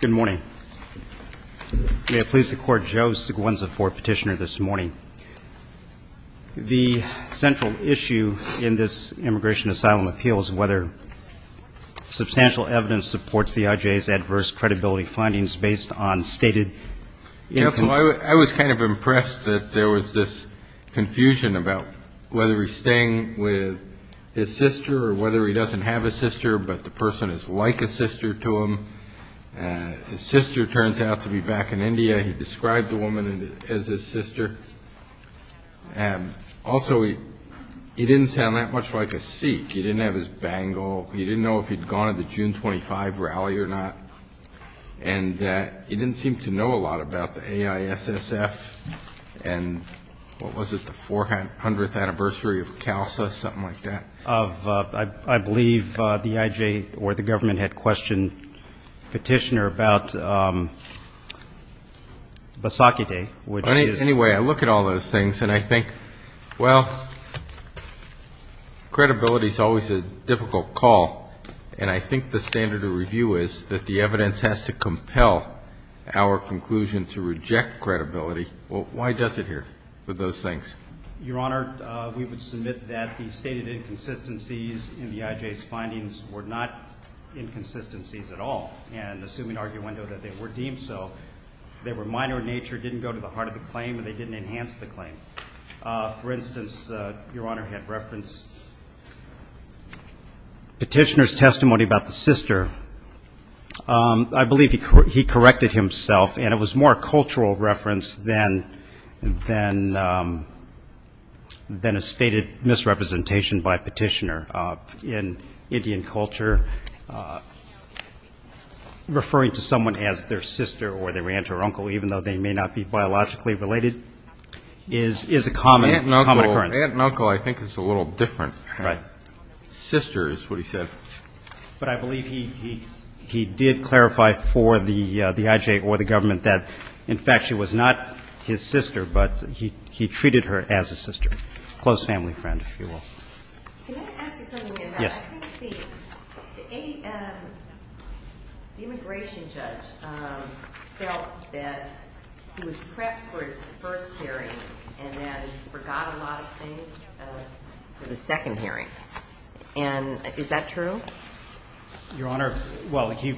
Good morning. May it please the Court, Joe Seguenza for Petitioner this morning. The central issue in this immigration asylum appeal is whether substantial evidence supports the IJ's adverse credibility findings based on stated- I was kind of impressed that there was this confusion about whether he's staying with his sister or whether he doesn't have a sister, but the person is like a sister to him. His sister turns out to be back in India. He described the woman as his sister. And also, he didn't sound that much like a Sikh. He didn't have his bangle. He didn't know if he'd gone to the June 25 rally or not. And he didn't seem to know a lot about the AIA. And what was it, the 400th anniversary of CALSA, something like that? Of, I believe, the IJ or the government had questioned Petitioner about Basakite, which is- Why does it here with those things? Your Honor, we would submit that the stated inconsistencies in the IJ's findings were not inconsistencies at all. And assuming arguendo that they were deemed so, they were minor in nature, didn't go to the heart of the claim, and they didn't enhance the claim. For instance, Your Honor had referenced Petitioner's testimony about the sister. I believe he corrected himself, and it was more a cultural reference than a stated misrepresentation by Petitioner. In Indian culture, referring to someone as their sister or their aunt or uncle, even though they may not be biologically related, is a common occurrence. Aunt and uncle I think is a little different. Right. Sister is what he said. But I believe he did clarify for the IJ or the government that, in fact, she was not his sister, but he treated her as a sister, close family friend, if you will. Can I ask you something, Your Honor? Yes. I think the immigration judge felt that he was prepped for his first hearing and then forgot a lot of things for the second hearing. And is that true? Your Honor, well, he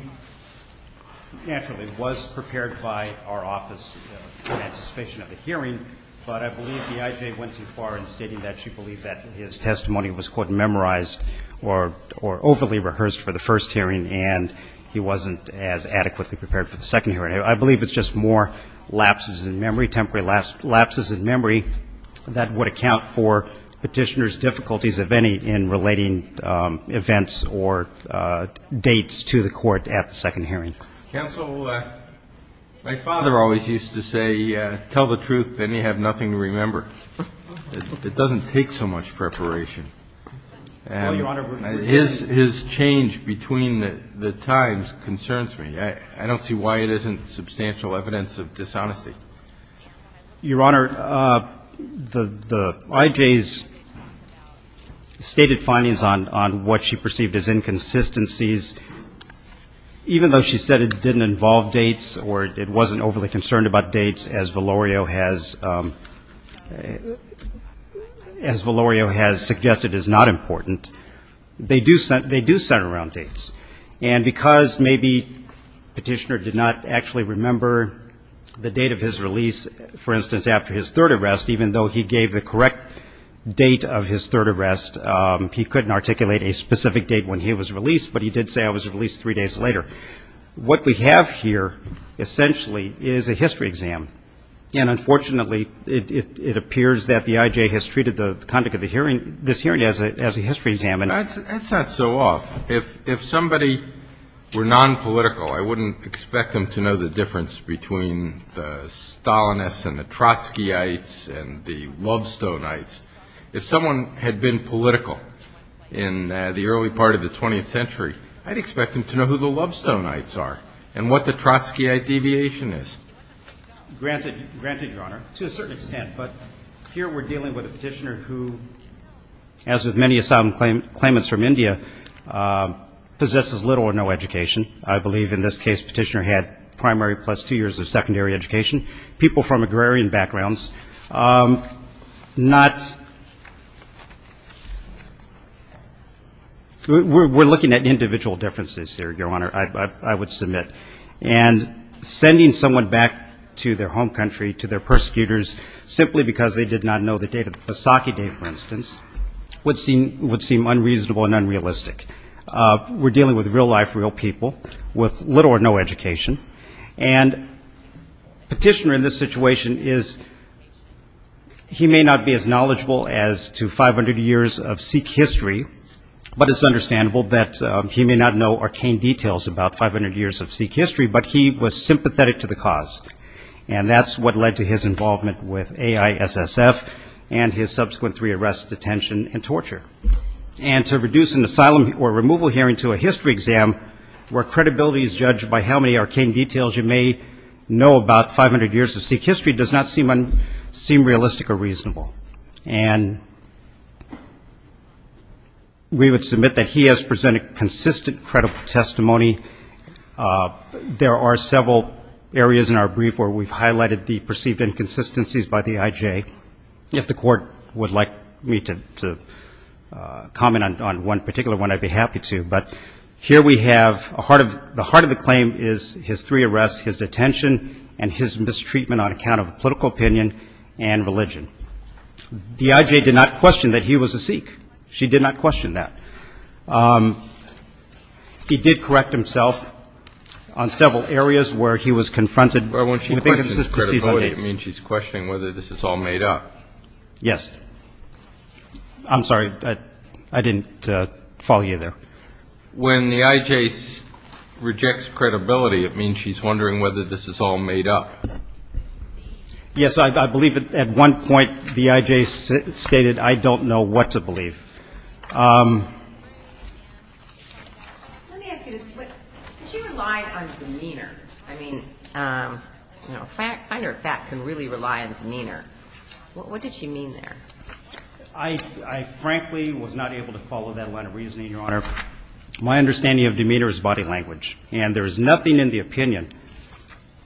naturally was prepared by our office in anticipation of the hearing. But I believe the IJ went too far in stating that she believed that his testimony was, quote, memorized or overly rehearsed for the first hearing, and he wasn't as adequately prepared for the second hearing. I believe it's just more lapses in memory, temporary lapses in memory that would account for Petitioner's difficulties, if any, in relating events or dates to the court at the second hearing. Counsel, my father always used to say, tell the truth, then you have nothing to remember. It doesn't take so much preparation. And his change between the times concerns me. I don't see why it isn't substantial evidence of dishonesty. Your Honor, the IJ's stated findings on what she perceived as inconsistencies, even though she said it didn't involve dates or it wasn't overly concerned about dates, as Valerio has suggested is not important, they do center around dates. And because maybe Petitioner did not actually remember the date of his release, for instance, after his third arrest, even though he gave the correct date of his third arrest, he couldn't articulate a specific date when he was released, but he did say I was released three days later. What we have here essentially is a history exam. And unfortunately, it appears that the IJ has treated the conduct of this hearing as a history exam. That's not so off. If somebody were nonpolitical, I wouldn't expect them to know the difference between the Stalinists and the Trotskyites and the Lovestoneites. If someone had been political in the early part of the 20th century, I'd expect them to know who the Lovestoneites are and what the Trotskyite deviation is. Granted, Your Honor, to a certain extent. But here we're dealing with a Petitioner who, as with many asylum claimants from India, possesses little or no education. I believe in this case Petitioner had primary plus two years of secondary education. People from agrarian backgrounds, not we're looking at individual differences here, Your Honor, I would submit. And sending someone back to their home country, to their persecutors, simply because they did not know the date of the Saki Day, for instance, would seem unreasonable and unrealistic. We're dealing with real life, real people with little or no education. And Petitioner in this situation is, he may not be as knowledgeable as to 500 years of Sikh history, but it's understandable that he may not know arcane details about 500 years of Sikh history, but he was sympathetic to the cause. And that's what led to his involvement with AISSF and his subsequent three arrests, detention, and torture. And to reduce an asylum or removal hearing to a history exam, where credibility is judged by how many arcane details you may know about 500 years of Sikh history, does not seem realistic or reasonable. And we would submit that he has presented consistent, credible testimony. There are several areas in our brief where we've highlighted the perceived inconsistencies by the IJ. If the Court would like me to comment on one particular one, I'd be happy to. But here we have the heart of the claim is his three arrests, his detention, and his mistreatment on account of political opinion and religion. The IJ did not question that he was a Sikh. She did not question that. He did correct himself on several areas where he was confronted with inconsistencies on AIDS. When she's questioning credibility, it means she's questioning whether this is all made up. Yes. I'm sorry. I didn't follow you there. When the IJ rejects credibility, it means she's wondering whether this is all made up. Yes. I believe at one point the IJ stated, I don't know what to believe. Let me ask you this. Did she rely on demeanor? I mean, a finder of fact can really rely on demeanor. What did she mean there? I frankly was not able to follow that line of reasoning, Your Honor. My understanding of demeanor is body language. And there is nothing in the opinion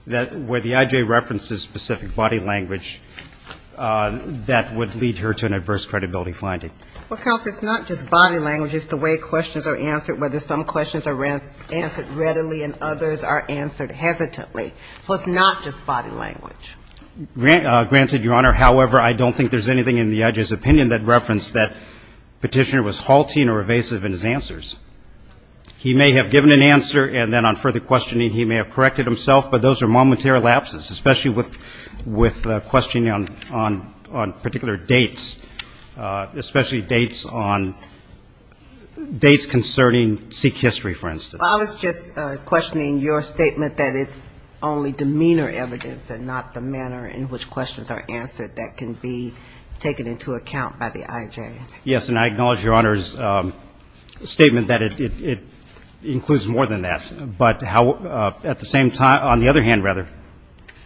where the IJ references specific body language that would lead her to an adverse credibility finding. Well, counsel, it's not just body language. It's the way questions are answered, whether some questions are answered readily and others are answered hesitantly. So it's not just body language. Granted, Your Honor, however, I don't think there's anything in the IJ's opinion that referenced that Petitioner was halting or evasive in his answers. He may have given an answer, and then on further questioning he may have corrected himself, but those are momentary lapses, especially with questioning on particular dates, especially dates on dates concerning Sikh history, for instance. I was just questioning your statement that it's only demeanor evidence and not the manner in which questions are answered that can be taken into account by the IJ. Yes, and I acknowledge Your Honor's statement that it includes more than that. But at the same time, on the other hand, rather,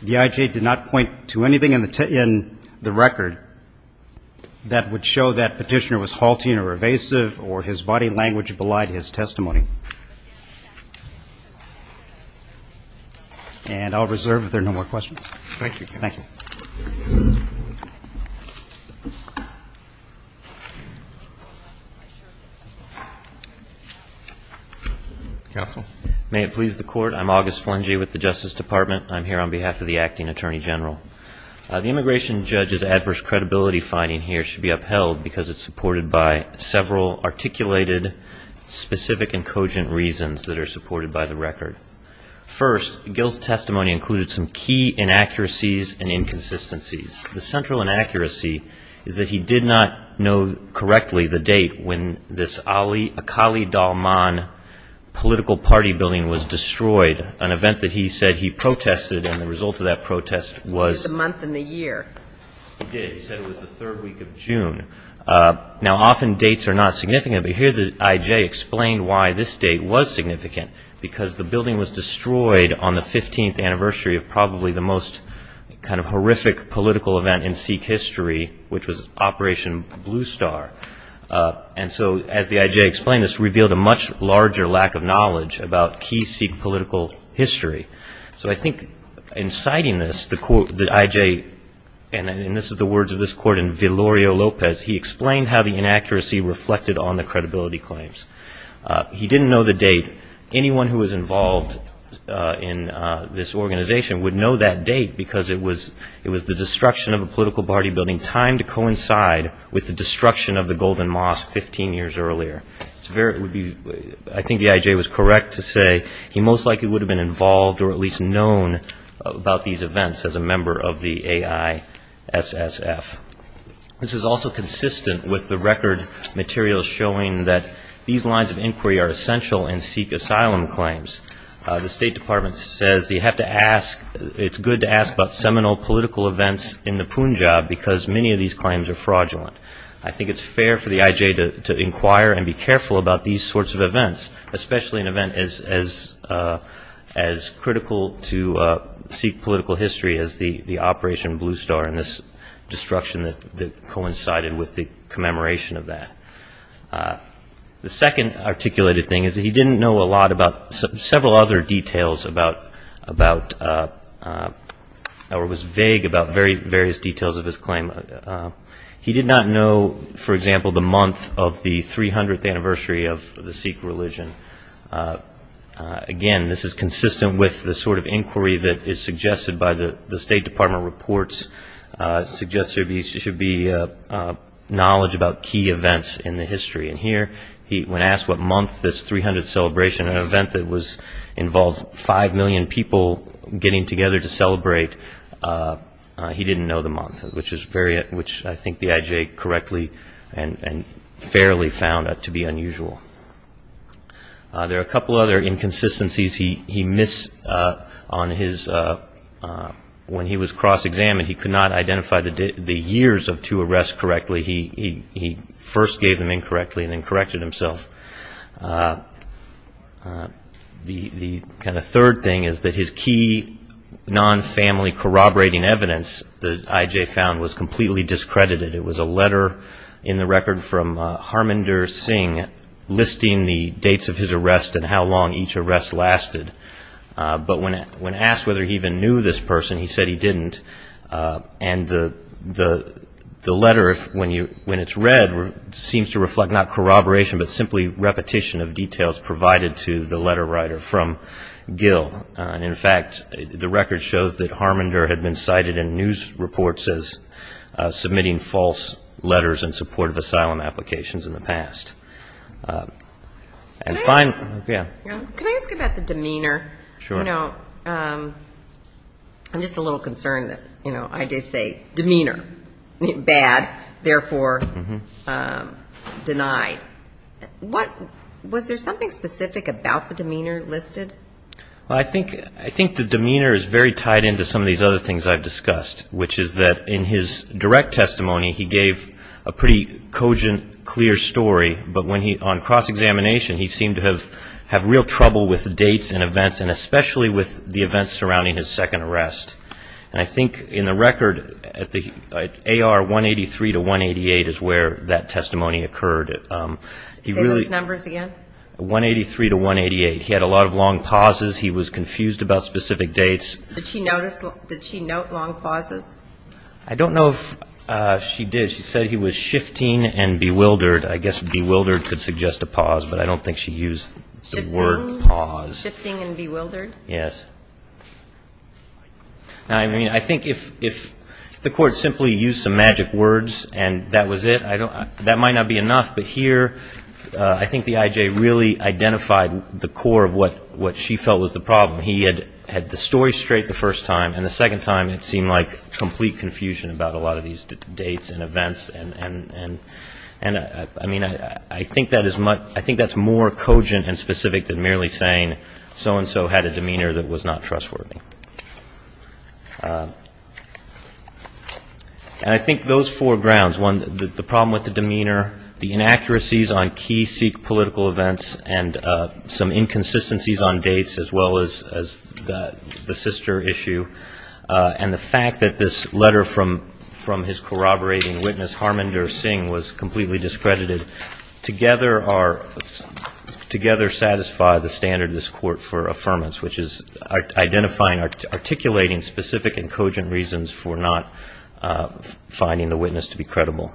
the IJ did not point to anything in the record that would show that Petitioner was halting or evasive or his body language belied his testimony. And I'll reserve if there are no more questions. Thank you. Thank you. Counsel. May it please the Court. I'm August Flengey with the Justice Department. I'm here on behalf of the Acting Attorney General. The immigration judge's adverse credibility finding here should be upheld because it's supported by several articulated, specific, and cogent reasons that are supported by the record. First, Gill's testimony included some key inaccuracies and inconsistencies. The central inaccuracy is that he did not know correctly the date when this Ali Akali Dalman political party building was destroyed, an event that he said he protested, and the result of that protest was the month and the year. He did. Now, often dates are not significant, but here the IJ explained why this date was significant, because the building was destroyed on the 15th anniversary of probably the most kind of horrific political event in Sikh history, which was Operation Blue Star. And so, as the IJ explained, this revealed a much larger lack of knowledge about key Sikh political history. So I think in citing this, the IJ, and this is the words of this court in Villorio Lopez, he explained how the inaccuracy reflected on the credibility claims. He didn't know the date. Anyone who was involved in this organization would know that date because it was the destruction of a political party building timed to coincide with the destruction of the Golden Mosque 15 years earlier. I think the IJ was correct to say he most likely would have been involved or at least known about these events as a member of the AISSF. This is also consistent with the record materials showing that these lines of inquiry are essential in Sikh asylum claims. The State Department says you have to ask, it's good to ask about seminal political events in the Punjab, because many of these claims are fraudulent. I think it's fair for the IJ to inquire and be careful about these sorts of events, especially an event as critical to Sikh political history as the Operation Blue Star and this destruction that coincided with the commemoration of that. The second articulated thing is that he didn't know a lot about several other details about, or was vague about various details of his claim. He did not know, for example, the month of the 300th anniversary of the Sikh religion. Again, this is consistent with the sort of inquiry that is suggested by the State Department reports, suggests there should be knowledge about key events in the history. And here, when asked what month this 300th celebration, an event that involved 5 million people getting together to celebrate, he didn't know the month, which I think the IJ correctly and fairly found to be unusual. There are a couple other inconsistencies he missed on his, when he was cross-examined, he could not identify the years of two arrests correctly. He first gave them incorrectly and then corrected himself. The kind of third thing is that his key non-family corroborating evidence that IJ found was completely discredited. It was a letter in the record from Harmandir Singh listing the dates of his arrest and how long each arrest lasted. But when asked whether he even knew this person, he said he didn't. The letter, when it's read, seems to reflect not corroboration, but simply repetition of details provided to the letter writer from Gill. And in fact, the record shows that Harmandir had been cited in news reports as submitting false letters in support of asylum applications in the past. And finally, yeah. Can I ask about the demeanor? I'm just a little concerned that IJ say demeanor, bad, therefore denied. Was there something specific about the demeanor listed? I think the demeanor is very tied into some of these other things I've discussed, which is that in his direct testimony, he gave a pretty cogent, clear story, but on cross-examination, he seemed to have real trouble with dates and events, and especially with the events surrounding his second arrest. And I think in the record, AR 183 to 188 is where that testimony occurred. Say those numbers again. 183 to 188. He had a lot of long pauses. He was confused about specific dates. Did she note long pauses? I don't know if she did. She said he was shifting and bewildered. I guess bewildered could suggest a pause, but I don't think she used the word pause. Shifting and bewildered? I think if the Court simply used some magic words and that was it, that might not be enough. But here, I think the IJ really identified the core of what she felt was the problem. He had the story straight the first time, and the second time it seemed like complete confusion about a lot of these dates and events. And I mean, I think that's more cogent and specific than merely saying so-and-so had a demeanor that was not trustworthy. And I think those four grounds, one, the problem with the demeanor, the inaccuracies on key Sikh political events, and some inconsistencies on dates, as well as the sister issue, and the fact that this letter from his corroborating witness, Harman, or Singh, was completely discredited, together satisfy the standard of this Court for affirmance, which is identifying, articulating specific and cogent reasons for not finding the witness to be credible.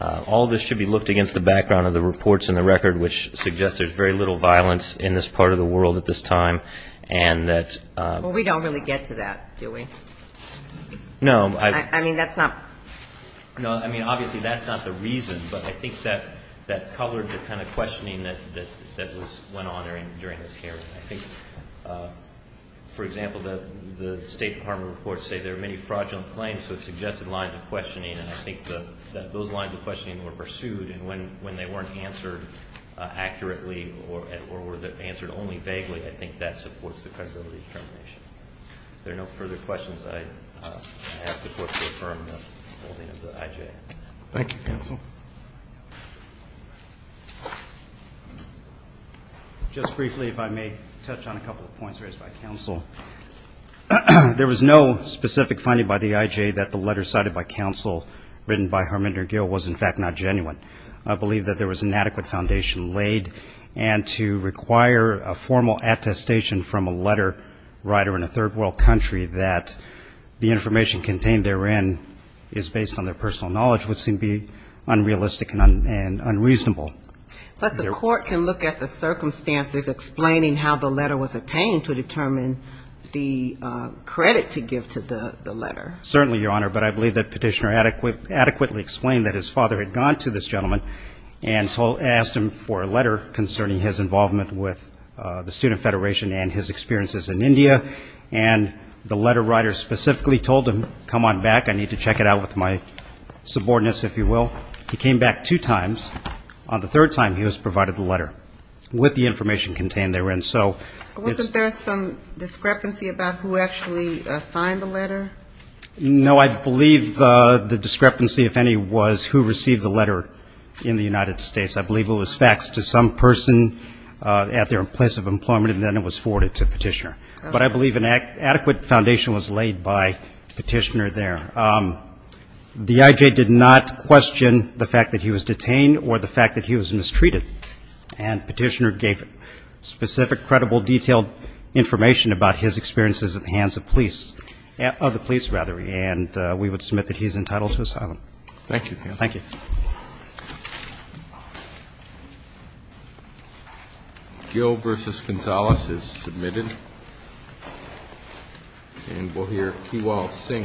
All this should be looked against the background of the reports in the record, which suggest there's very little violence in this part of the world at this time. And that's... Well, we don't really get to that, do we? No. I mean, that's not... No, I mean, obviously that's not the reason, but I think that colored the kind of questioning that went on during this hearing. I think, for example, the State Department reports say there are many fraudulent claims, so it suggested lines of questioning, and I think that those lines of questioning were pursued, and when they weren't answered accurately, or were answered only vaguely, I think that supports the credibility determination. If there are no further questions, I ask the Court to affirm the holding of the IJ. Thank you, counsel. Just briefly, if I may touch on a couple of points raised by counsel. There was no specific finding by the IJ that the letter cited by counsel written by Herminder Gill was, in fact, not genuine. I believe that there was an adequate foundation laid, and to require a formal attestation from a letter writer in a third-world country that the information contained therein is based on their personal knowledge would seem to be unreasonable. But the Court can look at the circumstances explaining how the letter was obtained to determine the credit to give to the letter. Certainly, Your Honor, but I believe that Petitioner adequately explained that his father had gone to this gentleman and asked him for a letter concerning his involvement with the Student Federation and his experiences in India, and the letter writer specifically told him, come on back, I need to check it out with my subordinates, if you will. He came back two times. On the third time, he was provided the letter with the information contained therein. So it's... Wasn't there some discrepancy about who actually signed the letter? No, I believe the discrepancy, if any, was who received the letter in the United States. I believe it was faxed to some person at their place of employment, and then it was forwarded to Petitioner. But I believe an adequate foundation was laid by Petitioner there. The I.J. did not question the fact that he was detained or the fact that he was mistreated, and Petitioner gave specific, credible, detailed information about his experiences at the hands of police, of the police, rather, and we would submit that he is entitled to asylum. Thank you. Gil v. Gonzalez is submitted. And we'll hear Kiwal Singh v. Gonzalez.